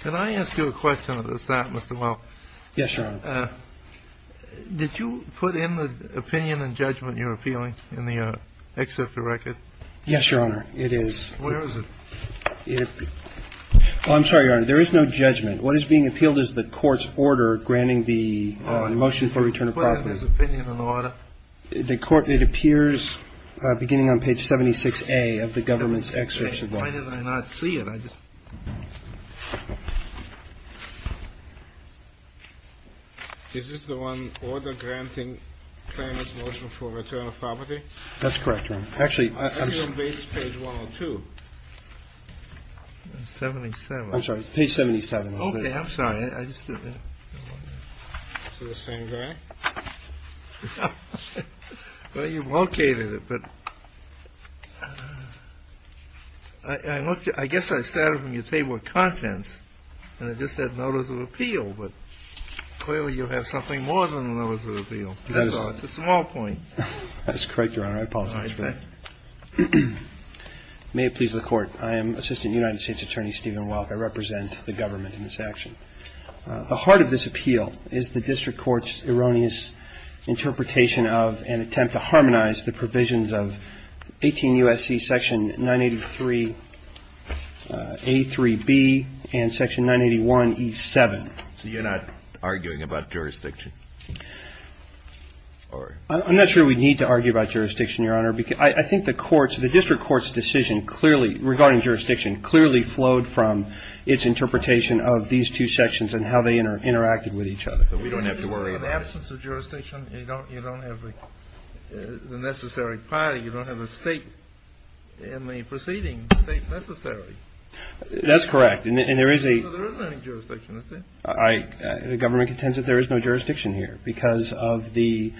Can I ask you a question at the start, Mr. Welk? Yes, Your Honor. Did you put in the opinion and judgment you're appealing in the excerpt of the record? Yes, Your Honor, it is. Where is it? I'm sorry, Your Honor, there is no judgment. What is being appealed is the court's order granting the motion for return of property. Put in his opinion and order. The court, it appears beginning on page 76A of the government's excerpt. Why did I not see it? Is this the one, order granting claimant's motion for return of property? That's correct, Your Honor. Actually, I'm sorry. Page 102. 77. I'm sorry, page 77. Okay, I'm sorry. I just didn't know. It's the same guy? Well, you located it, but I looked at it. I guess I started from your table of contents, and it just said notice of appeal, but clearly you have something more than a notice of appeal. That's all. It's a small point. That's correct, Your Honor. I apologize for that. May it please the Court. I am Assistant United States Attorney Stephen Welk. I represent the government in this action. The heart of this appeal is the district court's erroneous interpretation of and attempt to harmonize the provisions of 18 U.S.C. section 983A3B and section 981E7. So you're not arguing about jurisdiction? I'm not sure we need to argue about jurisdiction, Your Honor, because I think the courts the district court's decision clearly regarding jurisdiction clearly flowed from its interpretation of these two sections and how they interacted with each other. So we don't have to worry about it. In the absence of jurisdiction, you don't have the necessary priority. You don't have a state in the preceding state necessary. That's correct. And there is a There isn't any jurisdiction, is there? The government contends that there is no jurisdiction here because of the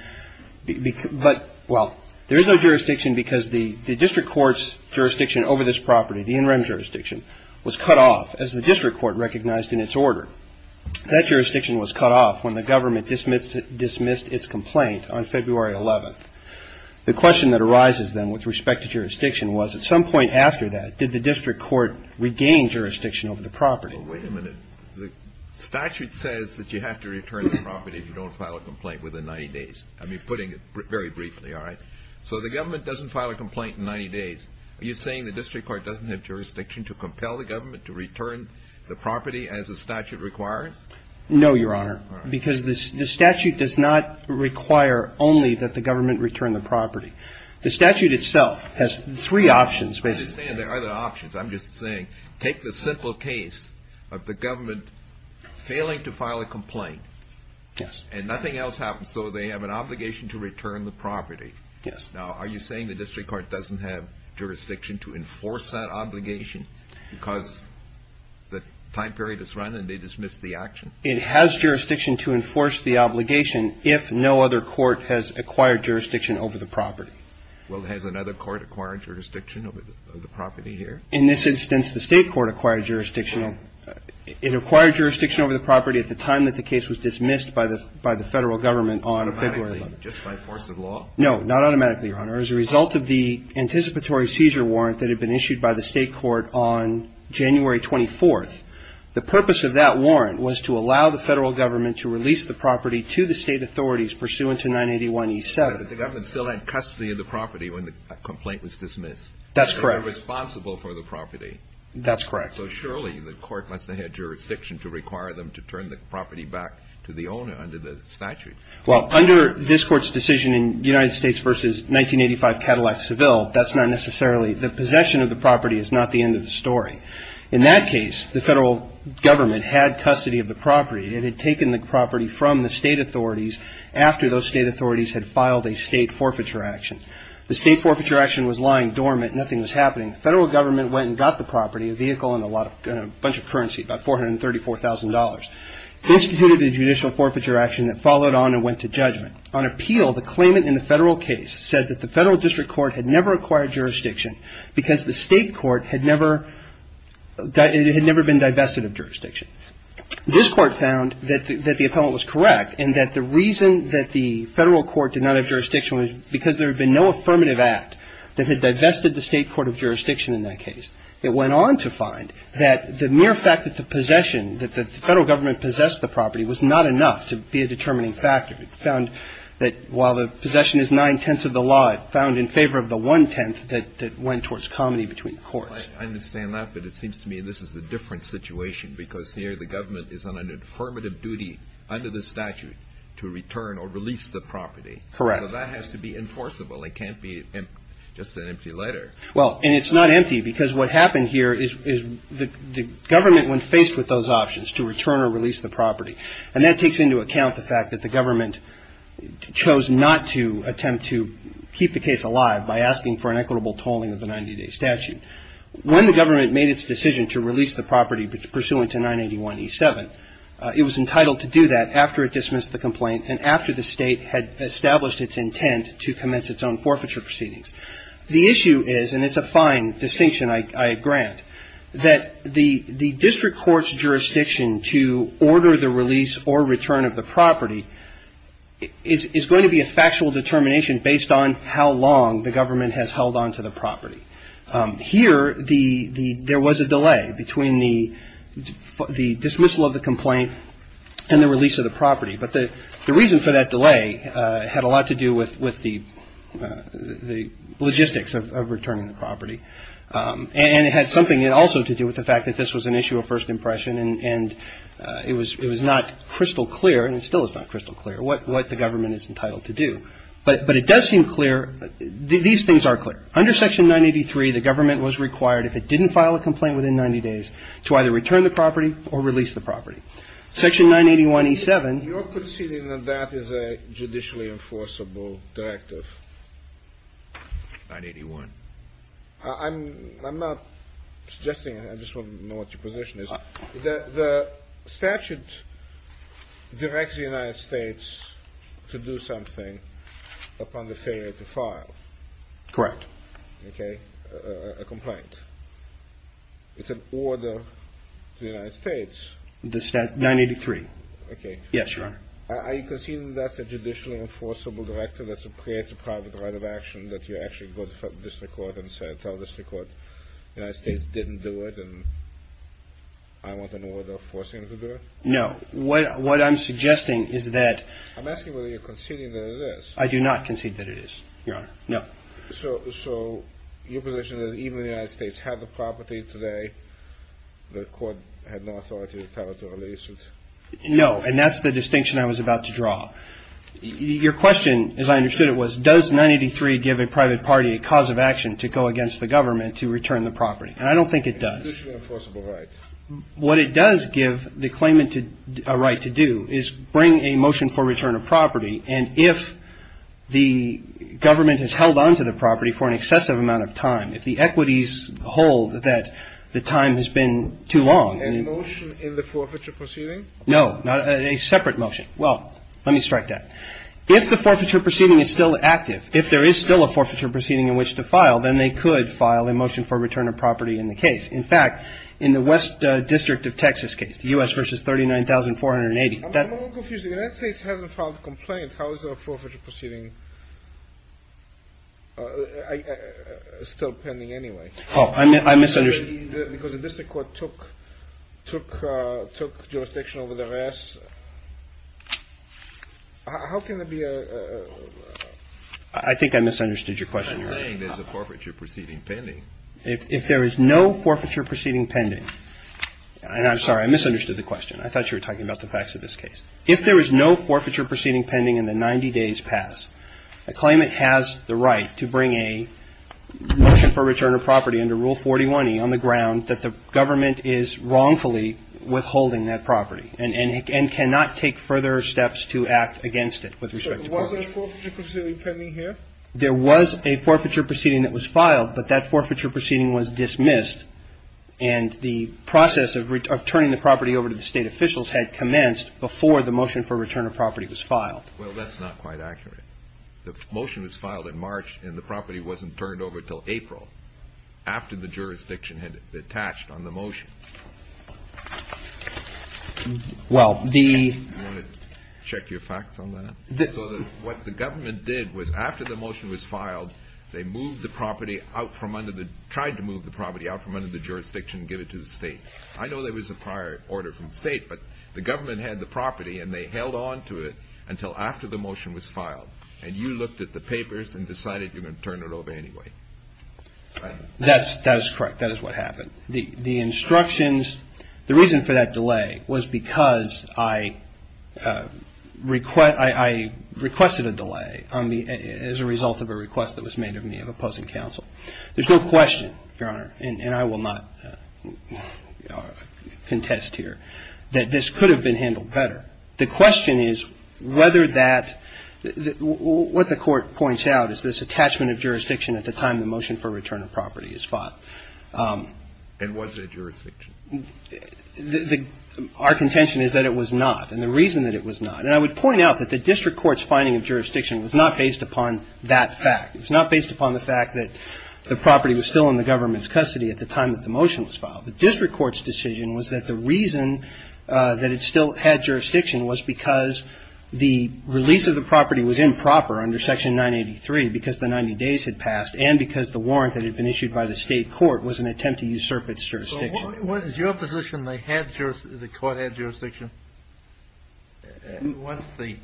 But, well, there is no jurisdiction because the district court's jurisdiction over this property, the interim jurisdiction, was cut off as the district court recognized in its order. That jurisdiction was cut off when the government dismissed its complaint on February 11th. The question that arises then with respect to jurisdiction was at some point after that, did the district court regain jurisdiction over the property? Well, wait a minute. The statute says that you have to return the property if you don't file a complaint within 90 days. I mean, putting it very briefly, all right? So the government doesn't file a complaint in 90 days. Are you saying the district court doesn't have jurisdiction to compel the government to return the property as the statute requires? No, Your Honor, because the statute does not require only that the government return the property. The statute itself has three options, basically. I understand there are other options. I'm just saying take the simple case of the government failing to file a complaint. Yes. And nothing else happens. So they have an obligation to return the property. Yes. Now, are you saying the district court doesn't have jurisdiction to enforce that obligation because the time period is run and they dismiss the action? It has jurisdiction to enforce the obligation if no other court has acquired jurisdiction over the property. Well, has another court acquired jurisdiction over the property here? In this instance, the state court acquired jurisdiction. It acquired jurisdiction over the property at the time that the case was dismissed by the Federal Government on February 11th. Automatically, just by force of law? No, not automatically, Your Honor. As a result of the anticipatory seizure warrant that had been issued by the state court on January 24th, the purpose of that warrant was to allow the Federal Government to release the property to the state authorities pursuant to 981E7. But the government still had custody of the property when the complaint was dismissed. That's correct. They were responsible for the property. That's correct. So surely the court must have had jurisdiction to require them to turn the property back to the owner under the statute. Well, under this Court's decision in United States v. 1985 Cadillac Seville, that's not necessarily the possession of the property is not the end of the story. In that case, the Federal Government had custody of the property. It had taken the property from the state authorities after those state authorities had filed a state forfeiture action. The state forfeiture action was lying dormant. Nothing was happening. The Federal Government went and got the property, a vehicle and a bunch of currency, about $434,000. They instituted a judicial forfeiture action that followed on and went to judgment. On appeal, the claimant in the Federal case said that the Federal District Court had never acquired jurisdiction because the state court had never been divested of jurisdiction. This court found that the appellant was correct and that the reason that the Federal Court did not have jurisdiction was because there had been no affirmative act that had divested the state court of jurisdiction in that case. It went on to find that the mere fact that the possession, that the Federal Government possessed the property, was not enough to be a determining factor. It found that while the possession is nine-tenths of the law, it found in favor of the one-tenth that went towards comity between the courts. I understand that, but it seems to me this is a different situation because here the government is on an affirmative duty under the statute to return or release the property. So that has to be enforceable. It can't be just an empty letter. Well, and it's not empty because what happened here is the government, when faced with those options to return or release the property, and that takes into account the fact that the government chose not to attempt to keep the case alive by asking for an equitable tolling of the 90-day statute. When the government made its decision to release the property pursuant to 981E7, it was entitled to do that after it dismissed the complaint and after the State had established its intent to commence its own forfeiture proceedings. The issue is, and it's a fine distinction I grant, that the district court's jurisdiction to order the release or return of the property is going to be a factual determination based on how long the government has held on to the property. Here there was a delay between the dismissal of the complaint and the release of the property. But the reason for that delay had a lot to do with the logistics of returning the property. And it had something also to do with the fact that this was an issue of first impression and it was not crystal clear, and it still is not crystal clear, what the government is entitled to do. But it does seem clear, these things are clear. Under Section 983, the government was required, if it didn't file a complaint within 90 days, to either return the property or release the property. Section 981E7. Your conceding that that is a judicially enforceable directive. 981. I'm not suggesting. I just want to know what your position is. Correct. Okay. A complaint. It's an order to the United States. 983. Okay. Yes, Your Honor. Are you conceding that's a judicially enforceable directive that creates a private right of action, that you actually go to the district court and tell the district court the United States didn't do it and I want an order forcing them to do it? No. What I'm suggesting is that. I'm asking whether you're conceding that it is. I do not concede that it is, Your Honor. No. So your position is that even if the United States had the property today, the court had no authority to tell it to release it? No, and that's the distinction I was about to draw. Your question, as I understood it, was, does 983 give a private party a cause of action to go against the government to return the property? And I don't think it does. Judicially enforceable right. And if the government has held on to the property for an excessive amount of time, if the equities hold that the time has been too long. A motion in the forfeiture proceeding? No. A separate motion. Well, let me strike that. If the forfeiture proceeding is still active, if there is still a forfeiture proceeding in which to file, then they could file a motion for return of property in the case. In fact, in the West District of Texas case, the U.S. versus 39,480. I'm a little confused. If the United States hasn't filed a complaint, how is a forfeiture proceeding still pending anyway? Oh, I misunderstood. Because the district court took jurisdiction over the rest. How can there be a. I think I misunderstood your question. I'm saying there's a forfeiture proceeding pending. If there is no forfeiture proceeding pending. And I'm sorry, I misunderstood the question. I thought you were talking about the facts of this case. If there is no forfeiture proceeding pending in the 90 days past, a claimant has the right to bring a motion for return of property under Rule 41E on the ground that the government is wrongfully withholding that property and cannot take further steps to act against it with respect to forfeiture. Was there a forfeiture proceeding pending here? There was a forfeiture proceeding that was filed, but that forfeiture proceeding was dismissed, and the process of returning the property over to the state officials had commenced before the motion for return of property was filed. Well, that's not quite accurate. The motion was filed in March, and the property wasn't turned over until April, after the jurisdiction had detached on the motion. Well, the. Do you want to check your facts on that? So what the government did was after the motion was filed, they tried to move the property out from under the jurisdiction and give it to the state. I know there was a prior order from the state, but the government had the property and they held on to it until after the motion was filed, and you looked at the papers and decided you were going to turn it over anyway. That is correct. That is what happened. The instructions, the reason for that delay was because I requested a delay as a result of a request that was made of me of opposing counsel. There's no question, Your Honor, and I will not contest here, that this could have been handled better. The question is whether that, what the court points out is this attachment of jurisdiction at the time the motion for return of property is filed. And was it a jurisdiction? Our contention is that it was not, and the reason that it was not, and I would point out that the district court's finding of jurisdiction was not based upon that fact. It was not based upon the fact that the property was still in the government's custody at the time that the motion was filed. The district court's decision was that the reason that it still had jurisdiction was because the release of the property was improper under Section 983 because the 90 days had passed and because the warrant that had been issued by the state court was an attempt to usurp its jurisdiction. What is your position? The court had jurisdiction? Once the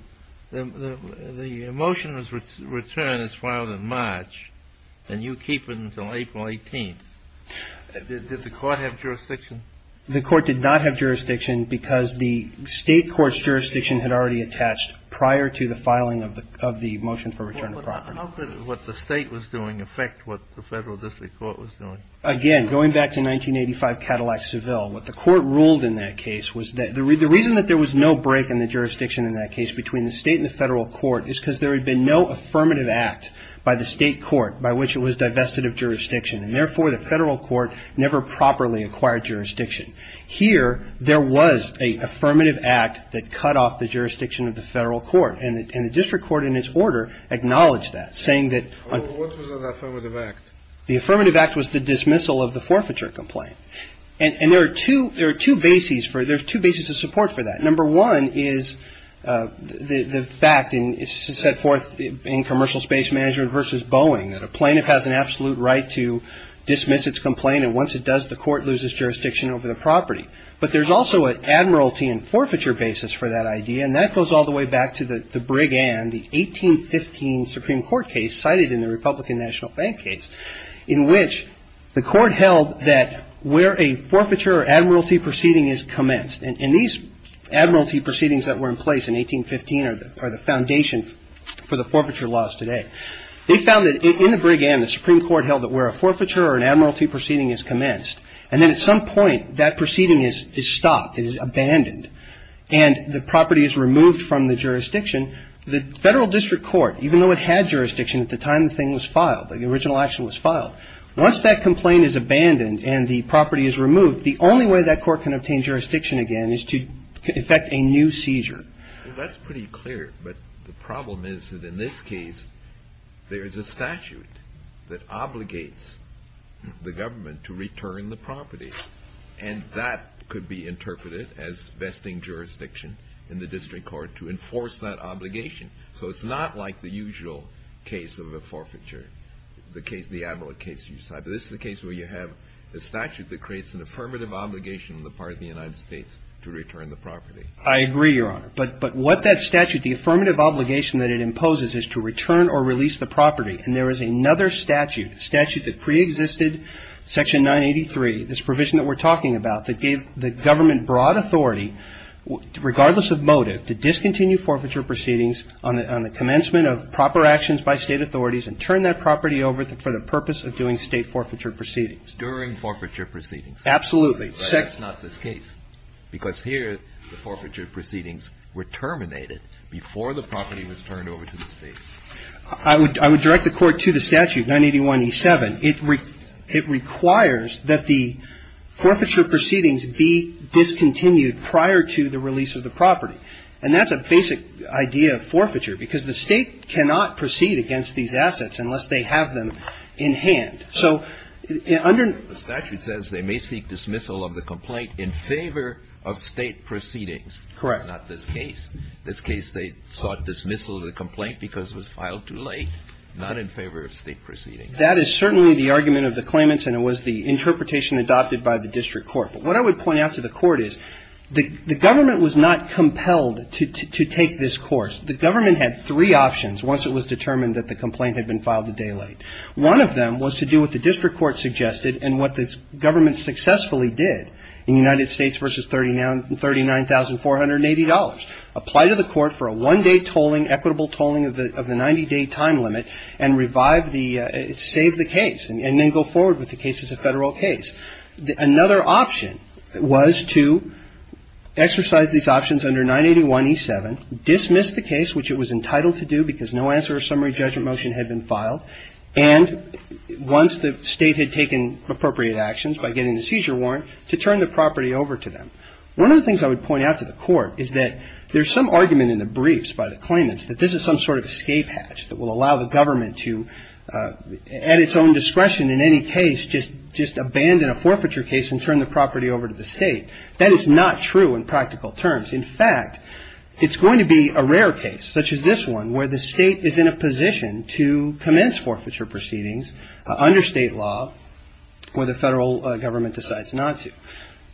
motion was returned, it was filed in March, and you keep it until April 18th. Did the court have jurisdiction? The court did not have jurisdiction because the state court's jurisdiction had already attached prior to the filing of the motion for return of property. How could what the state was doing affect what the federal district court was doing? Again, going back to 1985 Cadillac Seville, what the court ruled in that case was that the reason that there was no break in the jurisdiction in that case between the state and the federal court is because there had been no affirmative act by the state court by which it was divested of jurisdiction, and therefore, the federal court never properly acquired jurisdiction. Here, there was an affirmative act that cut off the jurisdiction of the federal court, and the district court in its order acknowledged that, saying that- What was that affirmative act? The affirmative act was the dismissal of the forfeiture complaint. And there are two bases for it. There's two bases of support for that. Number one is the fact set forth in Commercial Space Management v. Boeing that a plaintiff has an absolute right to dismiss its complaint, and once it does, the court loses jurisdiction over the property. But there's also an admiralty and forfeiture basis for that idea, and that goes all the way back to the Brigand, the 1815 Supreme Court case cited in the Republican National Bank case, in which the court held that where a forfeiture or admiralty proceeding is commenced. And these admiralty proceedings that were in place in 1815 are the foundation for the forfeiture laws today. They found that in the Brigand, the Supreme Court held that where a forfeiture or an admiralty proceeding is commenced, and then at some point, that proceeding is stopped, it is abandoned, and the property is removed from the jurisdiction, the Federal District Court, even though it had jurisdiction at the time the thing was filed, the original action was filed, once that complaint is abandoned and the property is removed, the only way that court can obtain jurisdiction again is to effect a new seizure. That's pretty clear, but the problem is that in this case, there is a statute that obligates the government to return the property, and that could be interpreted as vesting jurisdiction in the district court to enforce that obligation. So it's not like the usual case of a forfeiture, the case, the admiralty case you cite. But this is a case where you have a statute that creates an affirmative obligation on the part of the United States to return the property. I agree, Your Honor. But what that statute, the affirmative obligation that it imposes is to return or release the property. And there is another statute, a statute that preexisted, Section 983, this provision that we're talking about that gave the government broad authority, regardless of motive, to discontinue forfeiture proceedings on the commencement of proper actions by State authorities and turn that property over for the purpose of doing State forfeiture proceedings. During forfeiture proceedings. Absolutely. But that's not this case, because here the forfeiture proceedings were terminated before the property was turned over to the State. I would direct the Court to the statute, 981E7. It requires that the forfeiture proceedings be discontinued prior to the release of the property. And that's a basic idea of forfeiture, because the State cannot proceed against these assets unless they have them in hand. So under the statute says they may seek dismissal of the complaint in favor of State proceedings. Correct. Not this case. This case they sought dismissal of the complaint because it was filed too late, not in favor of State proceedings. That is certainly the argument of the claimants, and it was the interpretation adopted by the district court. But what I would point out to the court is the government was not compelled to take this course. The government had three options once it was determined that the complaint had been filed a day late. One of them was to do what the district court suggested and what the government successfully did in United States v. $39,480, apply to the court for a one-day tolling, equitable tolling of the 90-day time limit, and revive the – save the case and then go forward with the case as a Federal case. Another option was to exercise these options under 981E7, dismiss the case, which it was entitled to do because no answer or summary judgment motion had been filed, and once the State had taken appropriate actions by getting the seizure warrant, to turn the property over to them. One of the things I would point out to the court is that there's some argument in the briefs by the claimants that this is some sort of escape hatch that will allow the government to, at its own discretion in any case, just abandon a forfeiture case and turn the property over to the State. That is not true in practical terms. In fact, it's going to be a rare case, such as this one, where the State is in a position to commence forfeiture proceedings under State law where the Federal government decides not to.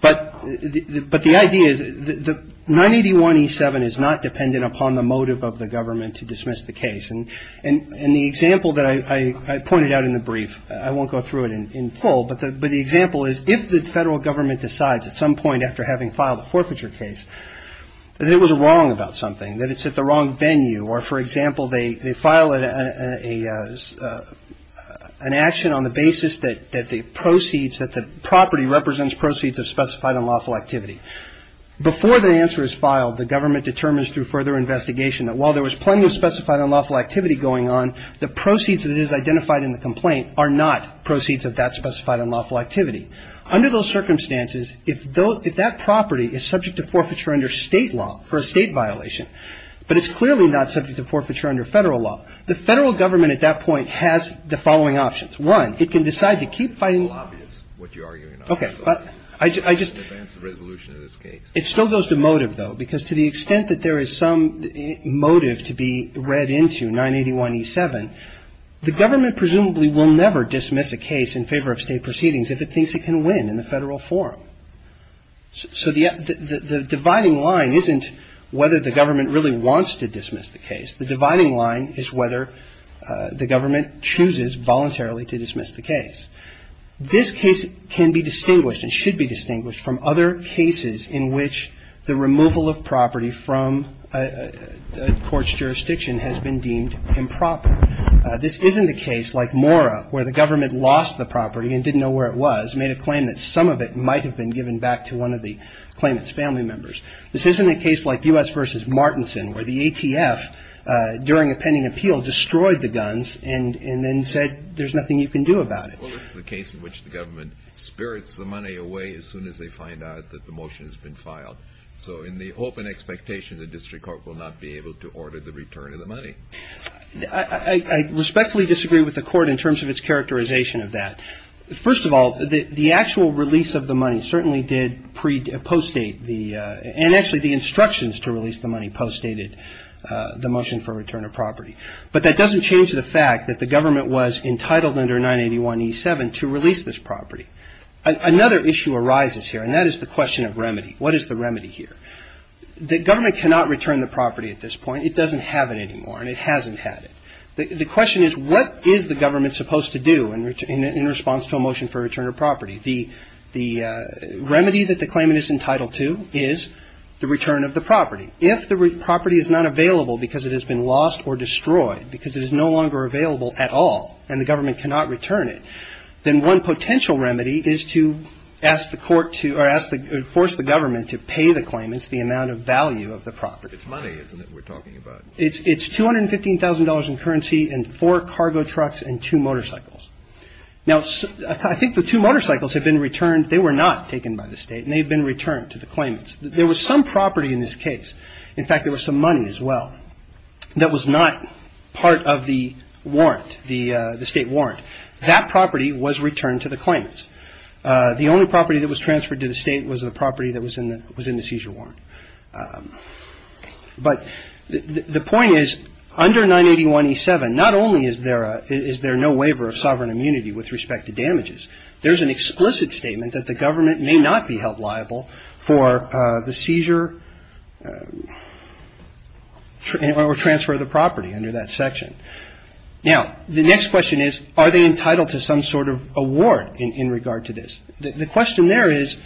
But the idea is that 981E7 is not dependent upon the motive of the government to dismiss the case. And the example that I pointed out in the brief, I won't go through it in full, but the example is if the Federal government decides at some point after having filed a forfeiture case that it was wrong about something, that it's at the wrong venue, or, for example, they file an action on the basis that the proceeds, that the property represents proceeds of specified unlawful activity. Before the answer is filed, the government determines through further investigation that while there was plenty of specified unlawful activity going on, the proceeds that it has identified in the complaint are not proceeds of that specified unlawful activity. Under those circumstances, if that property is subject to forfeiture under State law for a State violation, but it's clearly not subject to forfeiture under Federal law, the Federal government at that point has the following options. One, it can decide to keep fighting. It can decide to keep fighting. And the other option is to go to the lobby. The lobby is what you're arguing on. Okay. I just ‑‑ In advance of resolution of this case. It still goes to motive, though, because to the extent that there is some motive to be read into 981e7, the government presumably will never dismiss a case in favor of State proceedings if it thinks it can win in the Federal forum. So the dividing line isn't whether the government really wants to dismiss the case. The dividing line is whether the government chooses voluntarily to dismiss the case. This case can be distinguished and should be distinguished from other cases in which the removal of property from a court's jurisdiction has been deemed improper. This isn't a case like Mora where the government lost the property and didn't know where it was, made a claim that some of it might have been given back to one of the claimants' family members. This isn't a case like U.S. v. Martinson where the ATF, during a pending appeal, destroyed the guns and then said there's nothing you can do about it. Well, this is a case in which the government spirits the money away as soon as they find out that the motion has been filed. So in the open expectation, the district court will not be able to order the return of the money. I respectfully disagree with the court in terms of its characterization of that. First of all, the actual release of the money certainly did postdate the and actually the instructions to release the money postdated the motion for return of property. But that doesn't change the fact that the government was entitled under 981E7 to release this property. Another issue arises here, and that is the question of remedy. What is the remedy here? The government cannot return the property at this point. It doesn't have it anymore, and it hasn't had it. The question is what is the government supposed to do in response to a motion for return of property? The remedy that the claimant is entitled to is the return of the property. If the property is not available because it has been lost or destroyed, because it is no longer available at all and the government cannot return it, then one potential remedy is to ask the court to or force the government to pay the claimants the amount of value of the property. It's money, isn't it, we're talking about? It's $215,000 in currency and four cargo trucks and two motorcycles. Now, I think the two motorcycles have been returned. They were not taken by the state, and they've been returned to the claimants. There was some property in this case. In fact, there was some money as well that was not part of the warrant, the state warrant. That property was returned to the claimants. The only property that was transferred to the state was the property that was in the seizure warrant. But the point is, under 981E7, not only is there a no waiver of sovereign immunity with respect to damages, there's an explicit statement that the government may not be held liable for the seizure or transfer of the property under that section. Now, the next question is, are they entitled to some sort of award in regard to this? The question there is,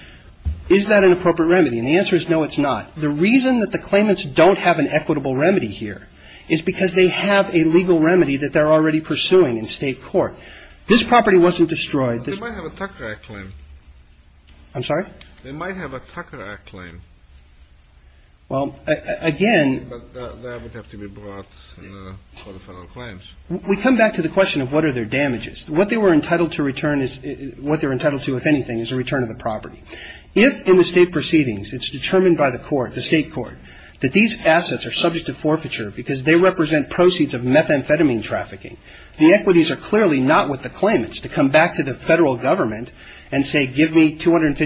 is that an appropriate remedy? And the answer is, no, it's not. The reason that the claimants don't have an equitable remedy here is because they have a legal remedy that they're already pursuing in state court. This property wasn't destroyed. They might have a Tucker Act claim. I'm sorry? They might have a Tucker Act claim. Well, again — But that would have to be brought for the final claims. We come back to the question of what are their damages. What they were entitled to return is — what they're entitled to, if anything, is a return of the property. If in the state proceedings it's determined by the court, the state court, that these assets are subject to forfeiture because they represent proceeds of methamphetamine trafficking, the equities are clearly not with the claimants to come back to the Federal Government and say, give me $250,000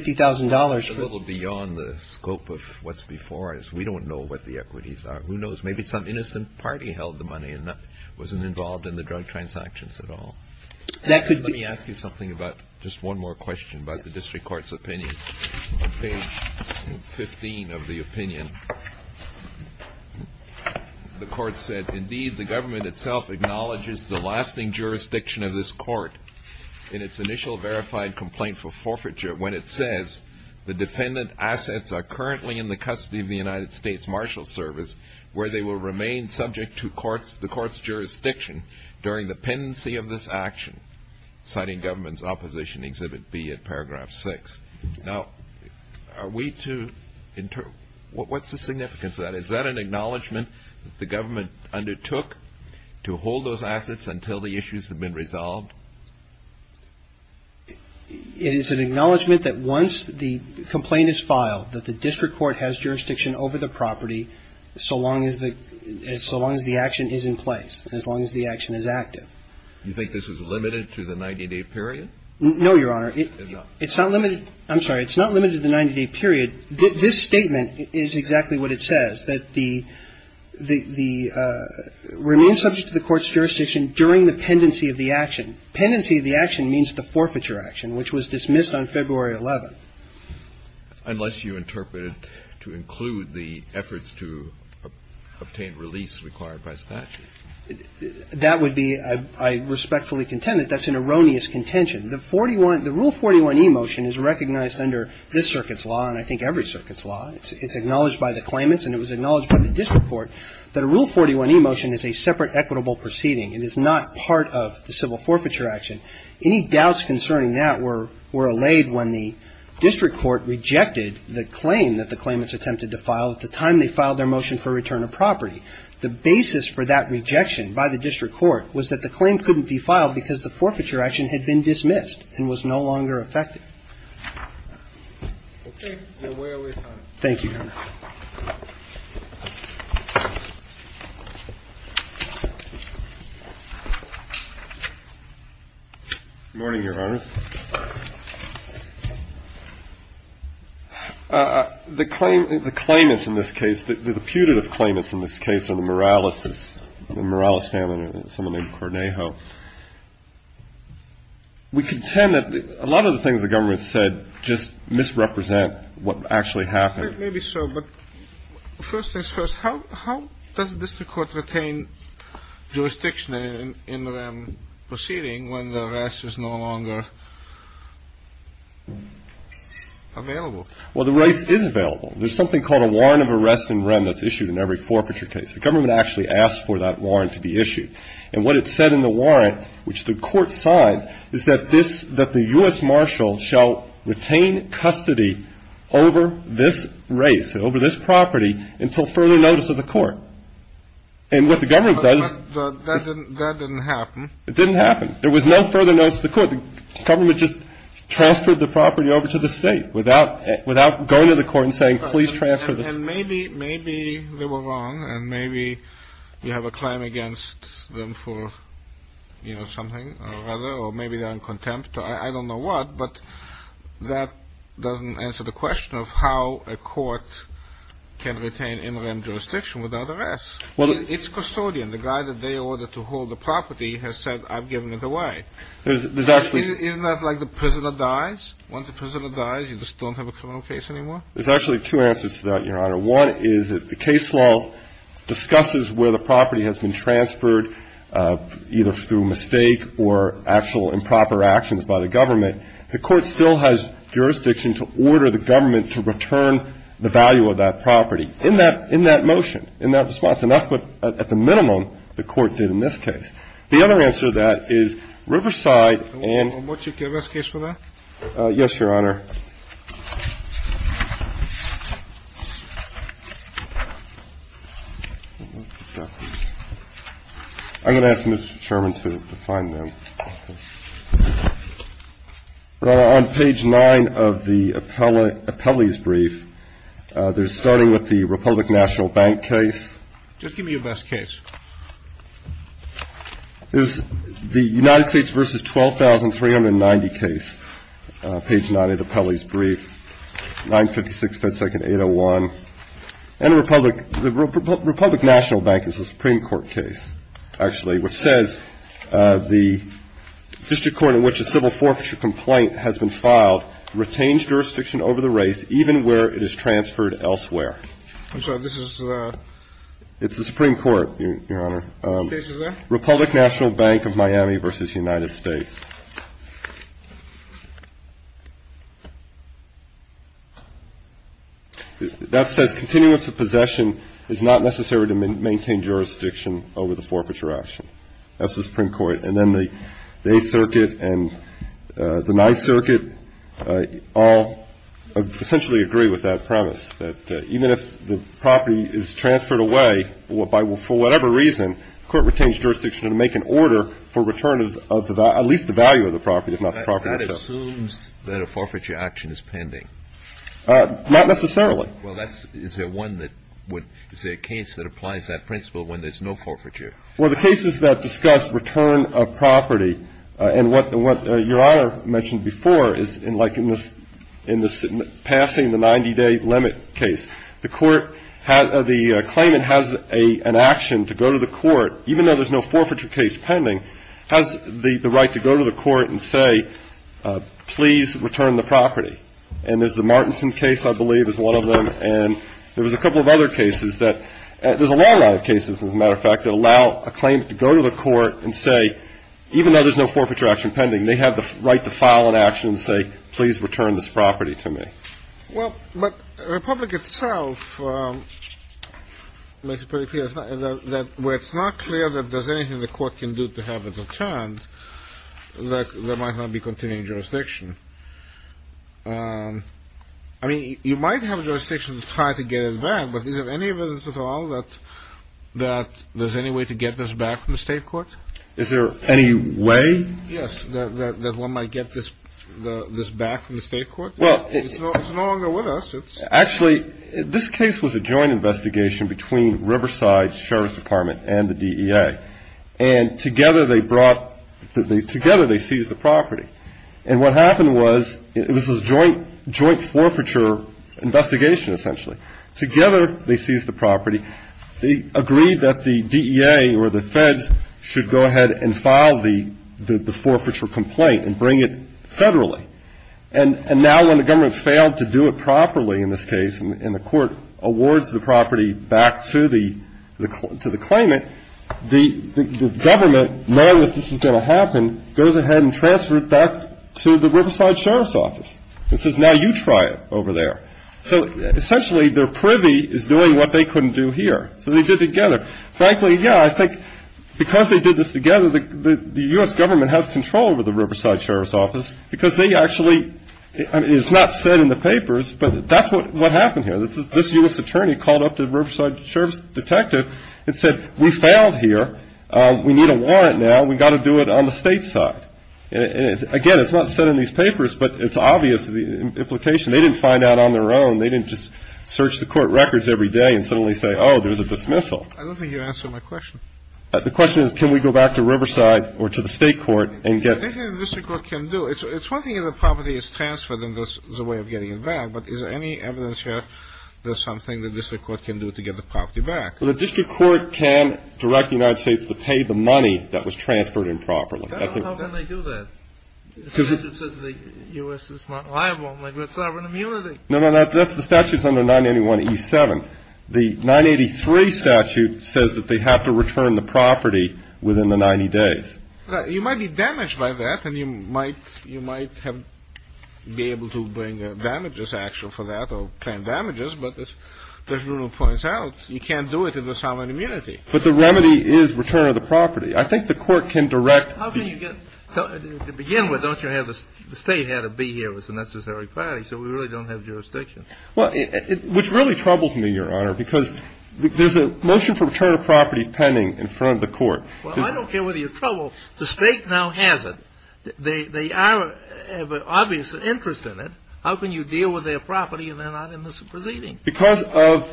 for — It's a little beyond the scope of what's before us. We don't know what the equities are. Who knows? Maybe some innocent party held the money and wasn't involved in the drug transactions at all. That could be — Page 15 of the opinion. The court said, Indeed, the government itself acknowledges the lasting jurisdiction of this court in its initial verified complaint for forfeiture when it says the defendant assets are currently in the custody of the United States Marshal Service where they will remain subject to the court's jurisdiction during the pendency of this action, citing Government's Opposition Exhibit B at paragraph 6. Now, are we to — what's the significance of that? Is that an acknowledgment that the government undertook to hold those assets until the issues have been resolved? It is an acknowledgment that once the complaint is filed, that the district court has jurisdiction over the property so long as the action is in place, as long as the action is active. Do you think this is limited to the 90-day period? No, Your Honor. It's not? It's not limited — I'm sorry. It's not limited to the 90-day period. This statement is exactly what it says, that the — remain subject to the court's jurisdiction during the pendency of the action. Pendency of the action means the forfeiture action, which was dismissed on February 11th. Unless you interpret it to include the efforts to obtain release required by statute. That would be — I respectfully contend that that's an erroneous contention. The 41 — the Rule 41e motion is recognized under this circuit's law and I think every circuit's law. It's acknowledged by the claimants and it was acknowledged by the district court that a Rule 41e motion is a separate equitable proceeding. It is not part of the civil forfeiture action. Any doubts concerning that were allayed when the district court rejected the claim that the claimants attempted to file at the time they filed their motion for return of property. The basis for that rejection by the district court was that the claim couldn't be filed because the forfeiture action had been dismissed and was no longer effective. Okay. We're way over time. Thank you, Your Honor. Good morning, Your Honor. The claim — the claimants in this case, the putative claimants in this case are the Morales family, someone named Cornejo. We contend that a lot of the things the government said just misrepresent what actually happened. Maybe so, but first things first, how does the district court retain jurisdiction in the REN proceeding when the rest is no longer available? Well, the rest is available. There's something called a warrant of arrest in REN that's issued in every forfeiture case. The government actually asks for that warrant to be issued. And what it said in the warrant, which the court signed, is that this — that the U.S. marshal shall retain custody over this race, over this property, until further notice of the court. And what the government does — But that didn't happen. It didn't happen. There was no further notice of the court. The government just transferred the property over to the State without going to the court and saying, please transfer the — And maybe they were wrong, and maybe you have a claim against them for, you know, something or other, or maybe they're in contempt. I don't know what, but that doesn't answer the question of how a court can retain in REN jurisdiction without arrest. It's custodian. The guy that they ordered to hold the property has said, I've given it away. There's actually — Isn't that like the prisoner dies? Once a prisoner dies, you just don't have a criminal case anymore? There's actually two answers to that, Your Honor. One is that the case law discusses where the property has been transferred, either through mistake or actual improper actions by the government. The court still has jurisdiction to order the government to return the value of that property in that — in that motion, in that response. And that's what, at the minimum, the court did in this case. The other answer to that is Riverside and — And would you give us a case for that? Yes, Your Honor. I'm going to ask Mr. Chairman to find them. On page 9 of the appellee's brief, they're starting with the Republic National Bank case. Just give me your best case. This is the United States v. 12,390 case, page 9 of the appellee's brief, 956 FedSecond 801. And the Republic — the Republic National Bank is a Supreme Court case, actually, which says the district court in which a civil forfeiture complaint has been filed retains jurisdiction over the race, even where it is transferred elsewhere. I'm sorry. This is the — It's the Supreme Court, Your Honor. Page 11. Republic National Bank of Miami v. United States. That says, Continuance of possession is not necessary to maintain jurisdiction over the forfeiture action. That's the Supreme Court. And then the Eighth Circuit and the Ninth Circuit all essentially agree with that premise, that even if the property is transferred away for whatever reason, the court retains jurisdiction to make an order for return of at least the value of the property, if not the property itself. That assumes that a forfeiture action is pending. Not necessarily. Well, that's — is there one that would — is there a case that applies that principle when there's no forfeiture? Well, the cases that discuss return of property and what Your Honor mentioned before is, in this passing the 90-day limit case, the court — the claimant has an action to go to the court, even though there's no forfeiture case pending, has the right to go to the court and say, please return the property. And there's the Martinson case, I believe, is one of them. And there was a couple of other cases that — there's a long line of cases, as a matter of fact, that allow a claimant to go to the court and say, even though there's no forfeiture action pending, they have the right to file an action and say, please return this property to me. Well, but Republic itself makes it pretty clear that where it's not clear that there's anything the court can do to have it returned, there might not be continuing jurisdiction. I mean, you might have jurisdiction to try to get it back, but is there any evidence at all that there's any way to get this back from the state court? Is there any way? Yes, that one might get this back from the state court? Well — It's no longer with us. Actually, this case was a joint investigation between Riverside Sheriff's Department and the DEA. And together they brought — together they seized the property. And what happened was — this was a joint forfeiture investigation, essentially. Together they seized the property. They agreed that the DEA or the feds should go ahead and file the forfeiture complaint and bring it federally. And now when the government failed to do it properly in this case and the court awards the property back to the claimant, the government, knowing that this was going to happen, goes ahead and transfers it back to the Riverside Sheriff's Office and says, now you try it over there. So essentially their privy is doing what they couldn't do here. So they did it together. Frankly, yeah, I think because they did this together, the U.S. government has control over the Riverside Sheriff's Office because they actually — I mean, it's not said in the papers, but that's what happened here. This U.S. attorney called up the Riverside Sheriff's detective and said, we failed here. We need a warrant now. We've got to do it on the state side. And again, it's not said in these papers, but it's obvious the implication. They didn't find out on their own. They didn't just search the court records every day and suddenly say, oh, there's a dismissal. I don't think you answered my question. The question is, can we go back to Riverside or to the state court and get — Anything the district court can do. It's one thing if the property is transferred, then there's a way of getting it back. But is there any evidence here there's something the district court can do to get the property back? Well, the district court can direct the United States to pay the money that was transferred improperly. How can they do that? The statute says the U.S. is not liable. They've got sovereign immunity. No, no, that's — the statute's under 981E7. The 983 statute says that they have to return the property within the 90 days. You might be damaged by that, and you might have — be able to bring damages, actually, for that or claim damages. But as Bruno points out, you can't do it in the sovereign immunity. But the remedy is return of the property. I think the court can direct — How can you get — to begin with, don't you have — the state had to be here with the necessary clarity, so we really don't have jurisdiction. Well, it — which really troubles me, Your Honor, because there's a motion for return of property pending in front of the court. Well, I don't care whether you're troubled. The state now has it. They are obviously interested in it. How can you deal with their property and they're not in this proceeding? Because of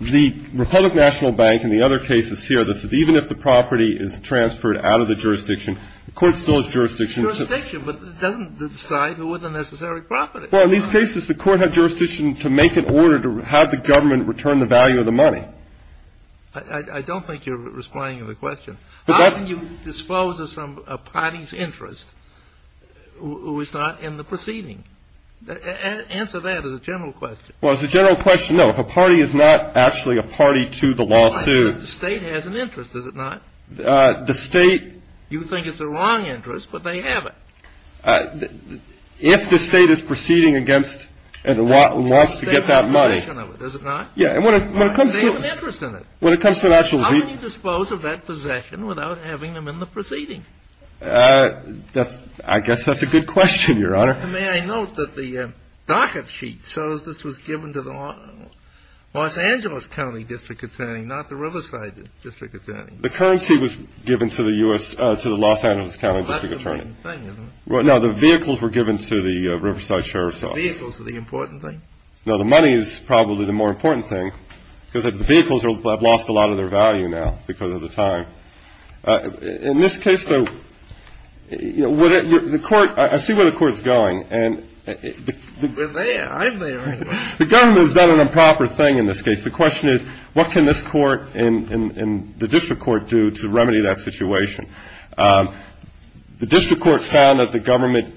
the Republic National Bank and the other cases here that said even if the property is transferred out of the jurisdiction, the court still has jurisdiction. Jurisdiction, but it doesn't decide who has the necessary property. Well, in these cases, the court had jurisdiction to make an order to have the government return the value of the money. I don't think you're responding to the question. How can you dispose of a party's interest who is not in the proceeding? Answer that as a general question. Well, as a general question, no. If a party is not actually a party to the lawsuit — The state has an interest, does it not? The state — You think it's a wrong interest, but they have it. If the state is proceeding against and wants to get that money — The state has possession of it, does it not? Yeah, and when it comes to — They have an interest in it. When it comes to an actual — How can you dispose of that possession without having them in the proceeding? That's — I guess that's a good question, Your Honor. May I note that the docket sheet shows this was given to the Los Angeles County District Attorney, not the Riverside District Attorney. The currency was given to the Los Angeles County District Attorney. That's the main thing, isn't it? No, the vehicles were given to the Riverside Sheriff's Office. The vehicles are the important thing? No, the money is probably the more important thing, because the vehicles have lost a lot of their value now because of the time. In this case, though, you know, the Court — I see where the Court is going. And — We're there. I'm there. The government has done an improper thing in this case. The question is, what can this Court and the district court do to remedy that situation? The district court found that the government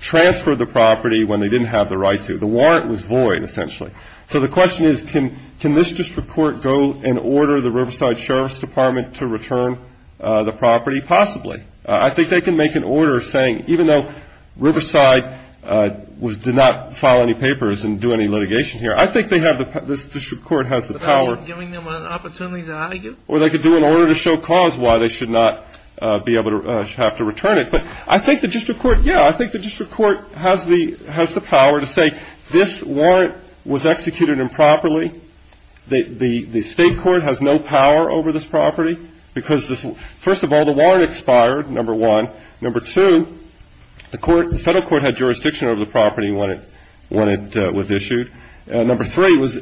transferred the property when they didn't have the right to. The warrant was void, essentially. So the question is, can this district court go and order the Riverside Sheriff's Department to return the property? Possibly. I think they can make an order saying, even though Riverside did not file any papers and do any litigation here, I think they have the — this district court has the power — Without giving them an opportunity to argue? Or they could do an order to show cause why they should not be able to — have to return it. But I think the district court — yeah, I think the district court has the power to say this warrant was executed improperly. The state court has no power over this property because this — first of all, the warrant expired, number one. Number two, the court — the federal court had jurisdiction over the property when it was issued. Number three, it was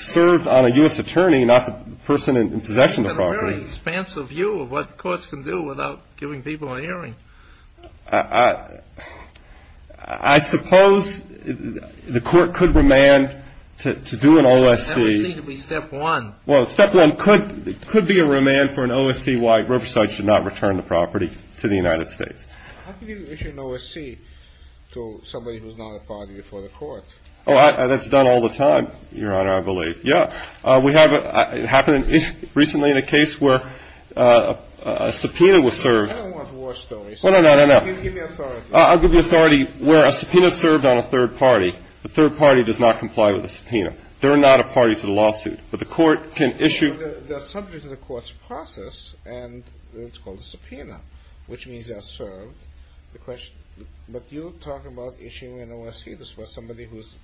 served on a U.S. attorney, not the person in possession of the property. That's a very expansive view of what courts can do without giving people an earring. I suppose the court could remand to do an OSC — That would seem to be step one. Well, step one could be a remand for an OSC why Riverside should not return the property to the United States. How can you issue an OSC to somebody who's not a party for the court? Oh, that's done all the time, Your Honor, I believe. Yeah. We have — it happened recently in a case where a subpoena was served — I don't want war stories. No, no, no, no, no. Give me authority. I'll give you authority. Where a subpoena is served on a third party, the third party does not comply with the subpoena. They're not a party to the lawsuit. But the court can issue — But they're subject to the court's process, and it's called a subpoena, which means they're served. But you talk about issuing an OSC to somebody who's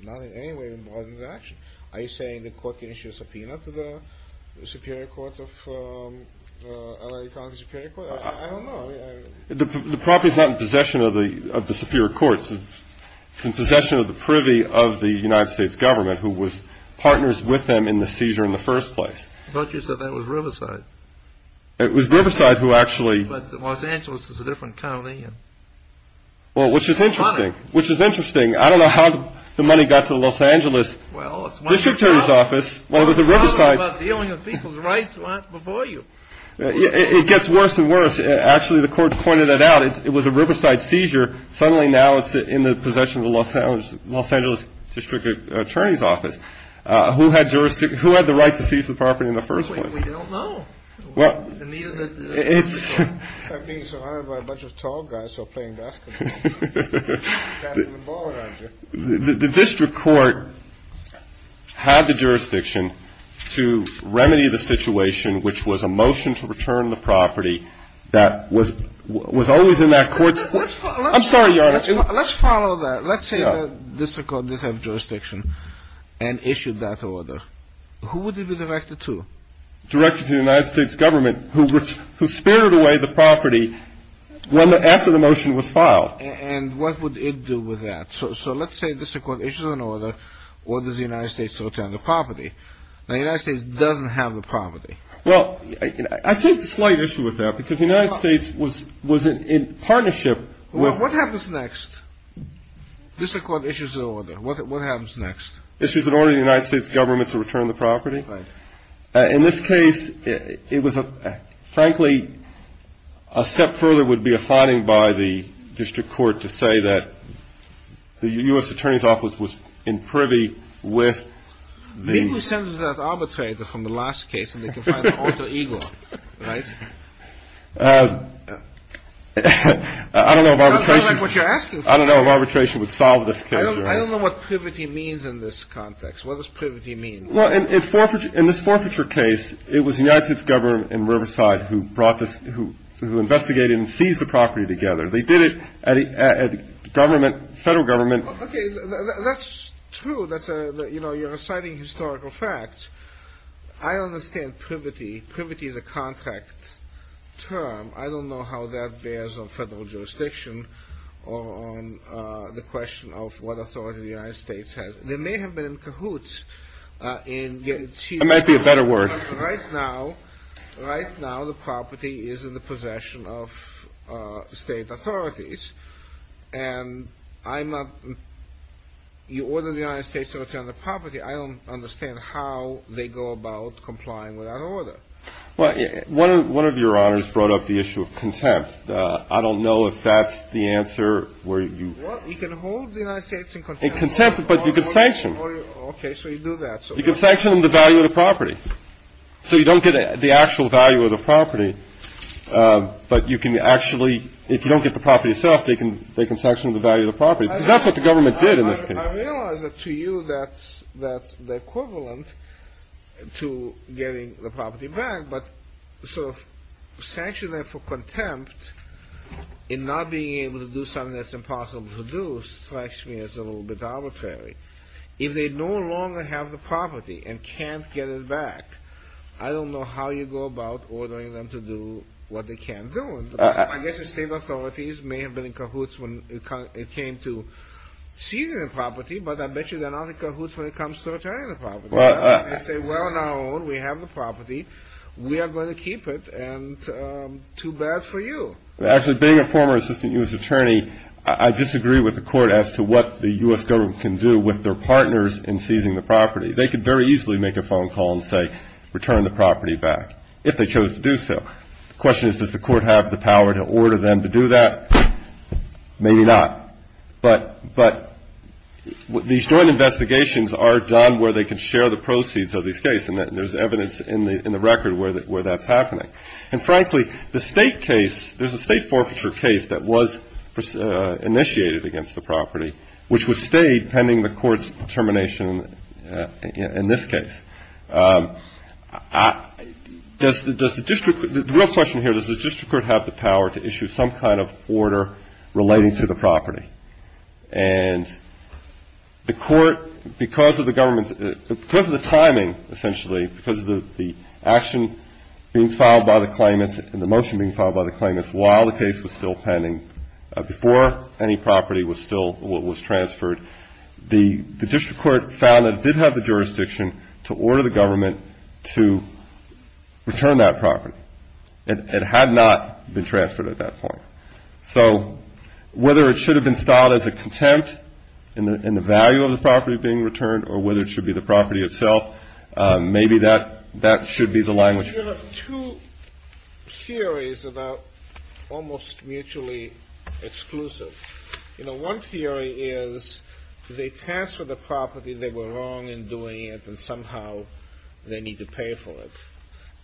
not in any way involved in the action. Are you saying the court can issue a subpoena to the Superior Court of the L.A. County Superior Court? I don't know. The property is not in possession of the Superior Court. It's in possession of the privy of the United States government, who was partners with them in the seizure in the first place. I thought you said that was Riverside. It was Riverside who actually — But Los Angeles is a different county. Well, which is interesting. Which is interesting. I don't know how the money got to Los Angeles. Well, it's one of your problems. District Attorney's Office. Well, it was the Riverside. It's one of your problems about dealing with people's rights before you. It gets worse and worse. Actually, the court's pointed that out. It was a Riverside seizure. Suddenly, now it's in the possession of the Los Angeles District Attorney's Office. Who had jurisdiction — who had the right to seize the property in the first place? We don't know. Well, it's — I'm being surrounded by a bunch of tall guys who are playing basketball. The district court had the jurisdiction to remedy the situation, which was a motion to return the property that was always in that court's — I'm sorry, Your Honor. Let's follow that. Let's say the district court did have jurisdiction and issued that order. Who would it be directed to? Directed to the United States government, who spared away the property after the motion was filed. And what would it do with that? So let's say the district court issues an order, orders the United States to return the property. Now, the United States doesn't have the property. Well, I take the slight issue with that, because the United States was in partnership with — What happens next? District court issues an order. What happens next? Issues an order to the United States government to return the property. Right. In this case, it was a — frankly, a step further would be a finding by the district court to say that the U.S. Attorney's Office was in privy with the — Maybe we send them to that arbitrator from the last case, and they can find an alter ego, right? I don't know if arbitration — That sounds like what you're asking for. I don't know what privity means in this context. What does privity mean? Well, in this forfeiture case, it was the United States government and Riverside who brought this — who investigated and seized the property together. They did it at a government — federal government — Okay. That's true. That's a — you know, you're citing historical facts. I understand privity. Privity is a contract term. I don't know how that bears on federal jurisdiction or on the question of what authority the United States has. They may have been in cahoots in getting — That might be a better word. Right now, the property is in the possession of state authorities. And I'm not — you order the United States to return the property, I don't understand how they go about complying with that order. Well, one of your honors brought up the issue of contempt. I don't know if that's the answer where you — Well, you can hold the United States in contempt. In contempt, but you can sanction. Okay, so you do that. You can sanction them the value of the property. So you don't get the actual value of the property, but you can actually — if you don't get the property itself, they can sanction the value of the property. That's what the government did in this case. I realize that to you that's the equivalent to getting the property back, but sort of sanctioning them for contempt and not being able to do something that's impossible to do strikes me as a little bit arbitrary. If they no longer have the property and can't get it back, I don't know how you go about ordering them to do what they can't do. I guess the state authorities may have been in cahoots when it came to seizing the property, but I bet you they're not in cahoots when it comes to returning the property. They say, well, on our own, we have the property. We are going to keep it, and too bad for you. Actually, being a former assistant U.S. attorney, I disagree with the court as to what the U.S. government can do with their partners in seizing the property. They could very easily make a phone call and say, return the property back, if they chose to do so. The question is, does the court have the power to order them to do that? Maybe not. But these joint investigations are done where they can share the proceeds of these cases, and there's evidence in the record where that's happening. And, frankly, the state case, there's a state forfeiture case that was initiated against the property, which was stayed pending the court's determination in this case. The real question here, does the district court have the power to issue some kind of order relating to the property? And the court, because of the government's ‑‑ because of the timing, essentially, because of the action being filed by the claimants and the motion being filed by the claimants while the case was still pending, before any property was still ‑‑ was transferred, the district court found it did have the jurisdiction to order the government to return that property. It had not been transferred at that point. So whether it should have been styled as a contempt in the value of the property being returned or whether it should be the property itself, maybe that should be the language. There are two theories that are almost mutually exclusive. You know, one theory is they transferred the property, they were wrong in doing it, and somehow they need to pay for it.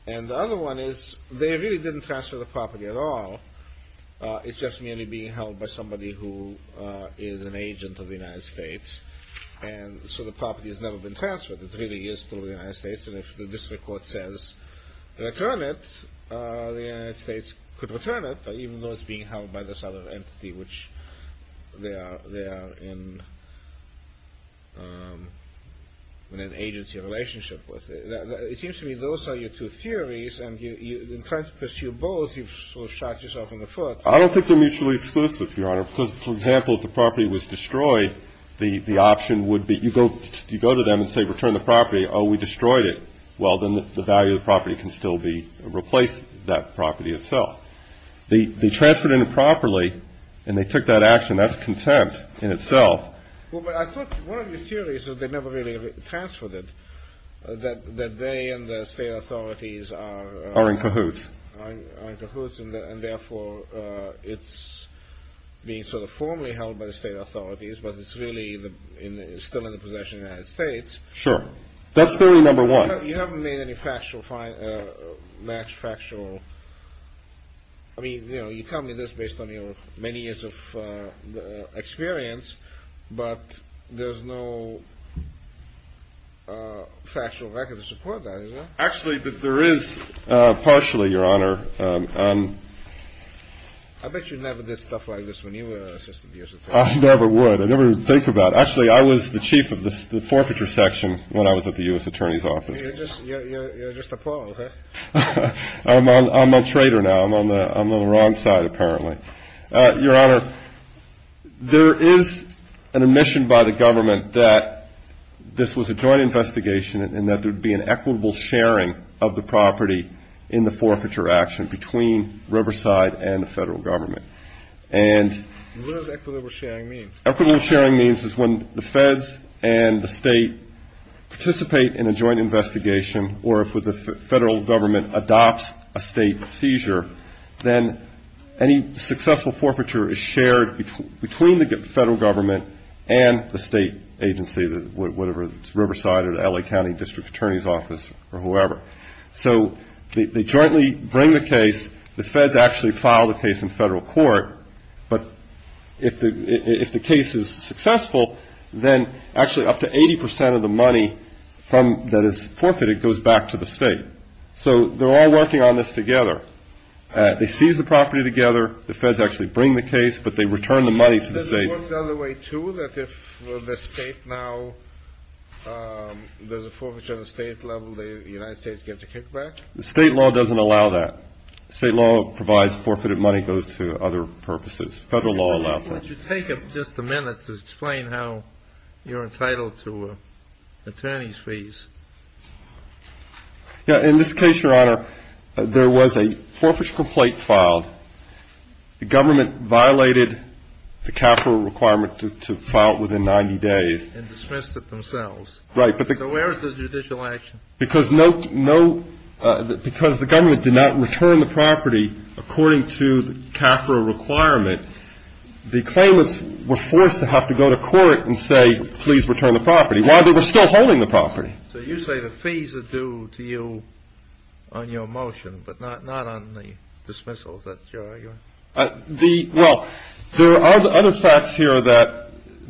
And the other one is they really didn't transfer the property at all. It's just merely being held by somebody who is an agent of the United States. And so the property has never been transferred. It really is to the United States. And if the district court says return it, the United States could return it, even though it's being held by this other entity which they are in an agency relationship with. It seems to me those are your two theories, and in trying to pursue both, you've sort of shot yourself in the foot. I don't think they're mutually exclusive, Your Honor, because, for example, if the property was destroyed, the option would be you go to them and say return the property. Oh, we destroyed it. Well, then the value of the property can still be replaced, that property itself. They transferred it improperly, and they took that action. That's contempt in itself. Well, but I thought one of your theories was they never really transferred it, that they and the state authorities are in cahoots. And therefore it's being sort of formally held by the state authorities, but it's really still in the possession of the United States. Sure. That's theory number one. You haven't made any factual, max factual, I mean, you know, you tell me this based on your many years of experience, but there's no factual record to support that, is there? Actually, there is partially, Your Honor. I bet you never did stuff like this when you were an assistant U.S. attorney. I never would. I never would think about it. Actually, I was the chief of the forfeiture section when I was at the U.S. attorney's office. You're just a paul, huh? I'm a traitor now. I'm on the wrong side, apparently. Your Honor, there is an admission by the government that this was a joint investigation and that there would be an equitable sharing of the property in the forfeiture action between Riverside and the federal government. And what does equitable sharing mean? Equitable sharing means is when the feds and the state participate in a joint investigation or if the federal government adopts a state seizure, then any successful forfeiture is shared between the federal government and the state agency, whatever it is, Riverside or the L.A. County District Attorney's Office or whoever. So they jointly bring the case. The feds actually file the case in federal court, but if the case is successful, then actually up to 80 percent of the money that is forfeited goes back to the state. So they're all working on this together. They seize the property together. The feds actually bring the case, but they return the money to the state. Does it work the other way, too, that if the state now does a forfeiture on a state level, the United States gets a kickback? The state law doesn't allow that. State law provides forfeited money goes to other purposes. Federal law allows that. Would you take just a minute to explain how you're entitled to attorney's fees? In this case, Your Honor, there was a forfeiture complaint filed. The government violated the capital requirement to file it within 90 days. And dismissed it themselves. Right. So where is the judicial action? Because the government did not return the property according to the capital requirement, the claimants were forced to have to go to court and say, please return the property, while they were still holding the property. So you say the fees are due to you on your motion, but not on the dismissals that you're arguing? Well, there are other facts here that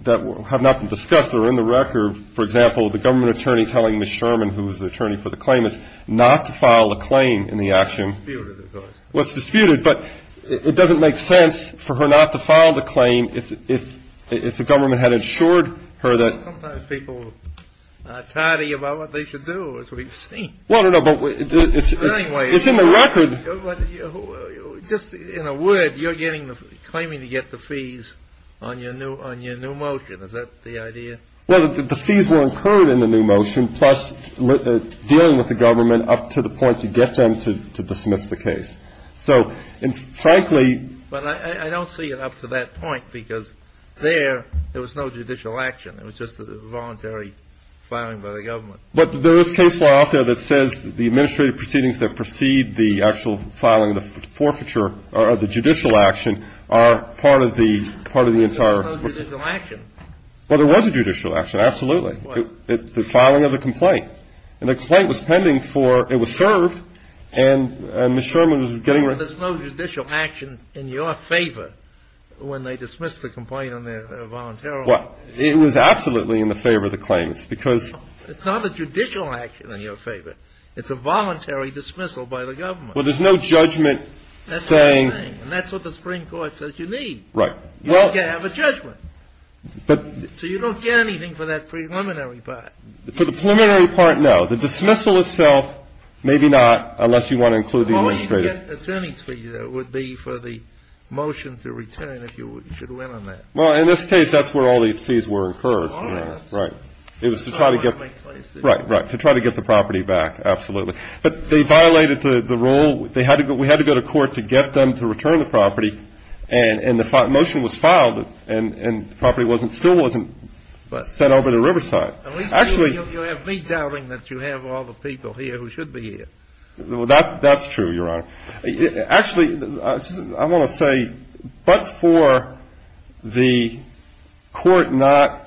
have not been discussed that are in the record. For example, the government attorney telling Ms. Sherman, who is the attorney for the claimants, not to file a claim in the action. It's disputed, of course. Well, it's disputed, but it doesn't make sense for her not to file the claim if the government had ensured her that. Sometimes people are tidy about what they should do, as we've seen. Well, no, no, but it's in the record. Just in a word, you're claiming to get the fees on your new motion. Is that the idea? Well, the fees were incurred in the new motion, plus dealing with the government up to the point to get them to dismiss the case. So, and frankly — But I don't see it up to that point, because there, there was no judicial action. It was just a voluntary filing by the government. But there is case law out there that says the administrative proceedings that precede the actual filing of the forfeiture or the judicial action are part of the entire — There was no judicial action. Well, there was a judicial action, absolutely. The filing of the complaint. And the complaint was pending for — it was served, and Ms. Sherman was getting — But there's no judicial action in your favor when they dismiss the complaint on their voluntary — Well, it was absolutely in the favor of the claimants, because — It's not a judicial action in your favor. It's a voluntary dismissal by the government. Well, there's no judgment saying — That's what they're saying, and that's what the Supreme Court says you need. Right. You don't get to have a judgment. But — So you don't get anything for that preliminary part. For the preliminary part, no. The dismissal itself, maybe not, unless you want to include the administrative — Well, where you get attorney's fees, though, would be for the motion to return, if you should win on that. Well, in this case, that's where all these fees were incurred. Right. It was to try to get — Right, right. To try to get the property back, absolutely. But they violated the rule. They had to go — we had to go to court to get them to return the property. And the motion was filed, and the property still wasn't sent over to Riverside. Actually — At least you have me doubting that you have all the people here who should be here. That's true, Your Honor. Actually, I want to say, but for the court not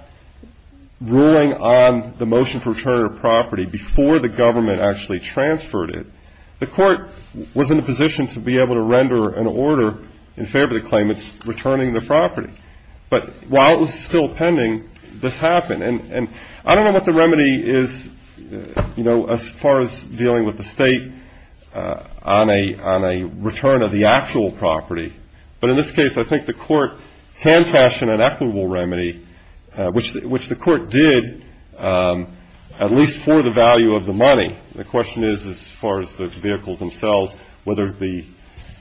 ruling on the motion for return of property before the government actually transferred it, the court was in a position to be able to render an order in favor of the claimants returning the property. But while it was still pending, this happened. And I don't know what the remedy is, you know, as far as dealing with the State on a return of the actual property. But in this case, I think the court can fashion an equitable remedy, which the court did, at least for the value of the money. The question is, as far as the vehicles themselves, whether the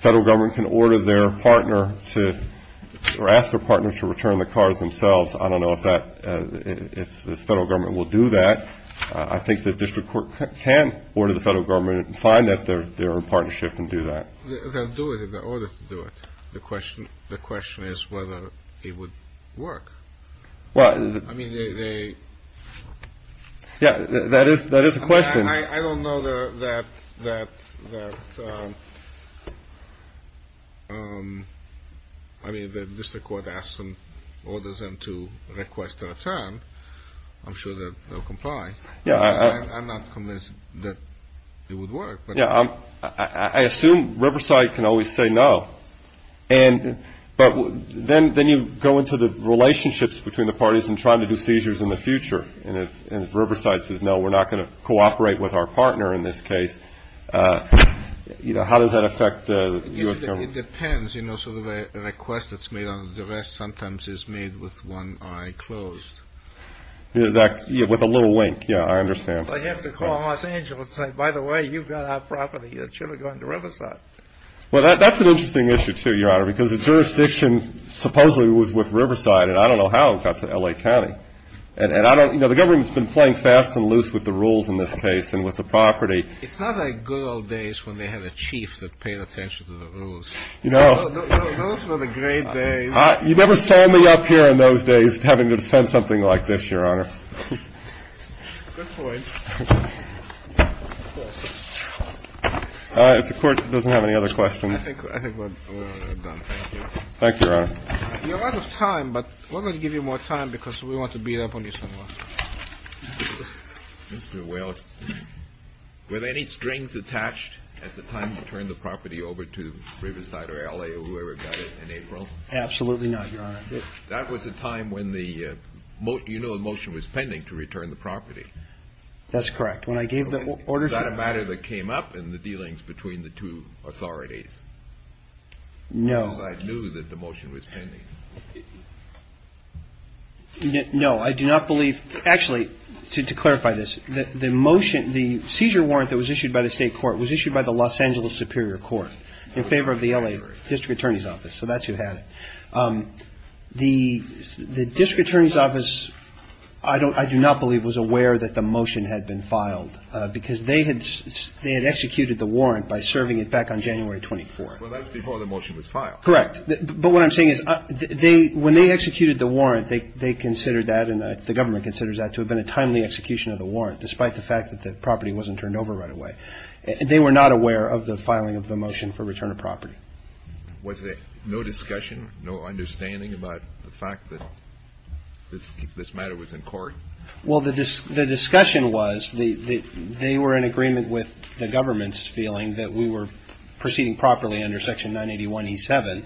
Federal Government can order their partner to — or ask their partner to return the cars themselves. I don't know if that — if the Federal Government will do that. I think the district court can order the Federal Government to find that they're in partnership and do that. They'll do it if they're ordered to do it. The question is whether it would work. Well — I mean, they — Yeah, that is a question. I don't know that — I mean, if the district court asks them, orders them to request a return, I'm sure that they'll comply. Yeah, I — I'm not convinced that it would work, but — Yeah, I assume Riverside can always say no. And — but then you go into the relationships between the parties and trying to do seizures in the future. And if Riverside says, no, we're not going to cooperate with our partner in this case, you know, how does that affect the U.S. Government? It depends. You know, sort of a request that's made on the duress sometimes is made with one eye closed. That — with a little wink. Yeah, I understand. But you have to call Los Angeles and say, by the way, you've got our property. You should have gone to Riverside. Well, that's an interesting issue, too, Your Honor, because the jurisdiction supposedly was with Riverside. And I don't know how it got to L.A. County. And I don't — you know, the government's been playing fast and loose with the rules in this case and with the property. It's not like good old days when they had a chief that paid attention to the rules. You know — Those were the great days. You never saw me up here in those days having to defend something like this, Your Honor. Good point. If the Court doesn't have any other questions — I think we're done. Thank you, Your Honor. You're out of time, but we're going to give you more time because we want to beat up on you some more. Mr. Welch, were there any strings attached at the time you turned the property over to Riverside or L.A. or whoever got it in April? Absolutely not, Your Honor. That was a time when the — you know the motion was pending to return the property. That's correct. When I gave the orders — Was that a matter that came up in the dealings between the two authorities? No. Because I knew that the motion was pending. No. I do not believe — actually, to clarify this, the motion — the seizure warrant that was issued by the State Court was issued by the Los Angeles Superior Court in favor of the L.A. District Attorney's Office. So that's who had it. The District Attorney's Office, I do not believe, was aware that the motion had been filed because they had — they had executed the warrant by serving it back on January 24th. Well, that was before the motion was filed. Correct. But what I'm saying is they — when they executed the warrant, they considered that and the government considers that to have been a timely execution of the warrant, despite the fact that the property wasn't turned over right away. They were not aware of the filing of the motion for return of property. Was there no discussion, no understanding about the fact that this matter was in court? Well, the discussion was they were in agreement with the government's feeling that we were proceeding properly under Section 981E7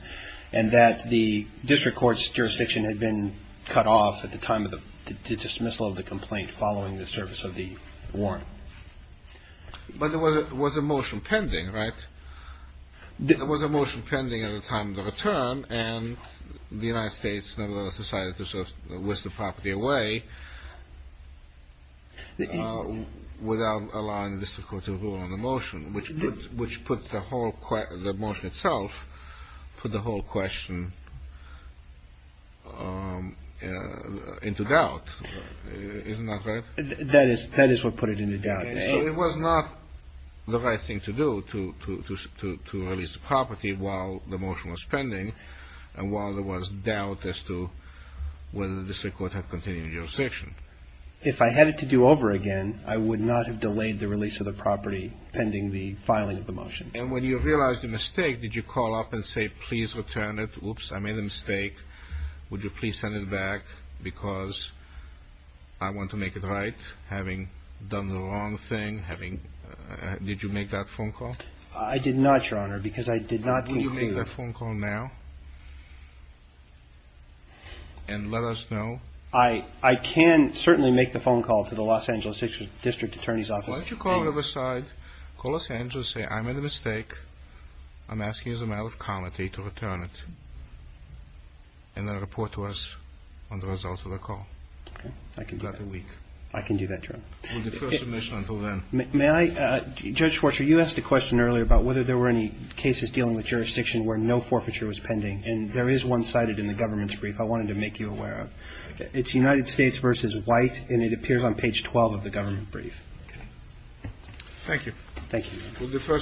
and that the district court's jurisdiction had been cut off at the time of the dismissal of the complaint following the service of the warrant. But there was a motion pending, right? Without allowing the district court to rule on the motion, which puts the whole — the motion itself put the whole question into doubt. Isn't that right? That is what put it into doubt. And so it was not the right thing to do to release the property while the motion was pending and while there was doubt as to whether the district court had continued jurisdiction. If I had it to do over again, I would not have delayed the release of the property pending the filing of the motion. And when you realized the mistake, did you call up and say, please return it? Oops, I made a mistake. Would you please send it back because I want to make it right, having done the wrong thing, having — did you make that phone call? I did not, Your Honor, because I did not conclude — Will you make that phone call now and let us know? I can certainly make the phone call to the Los Angeles District Attorney's Office. Why don't you call on the other side, call Los Angeles, say I made a mistake. I'm asking as a matter of comity to return it, and then report to us on the results of the call. Okay. I can do that. Within a week. I can do that, Your Honor. We defer submission until then. May I — Judge Schwarzer, you asked a question earlier about whether there were any cases dealing with jurisdiction where no forfeiture was pending. And there is one cited in the government's brief I wanted to make you aware of. It's United States v. White, and it appears on page 12 of the government brief. Thank you. Thank you.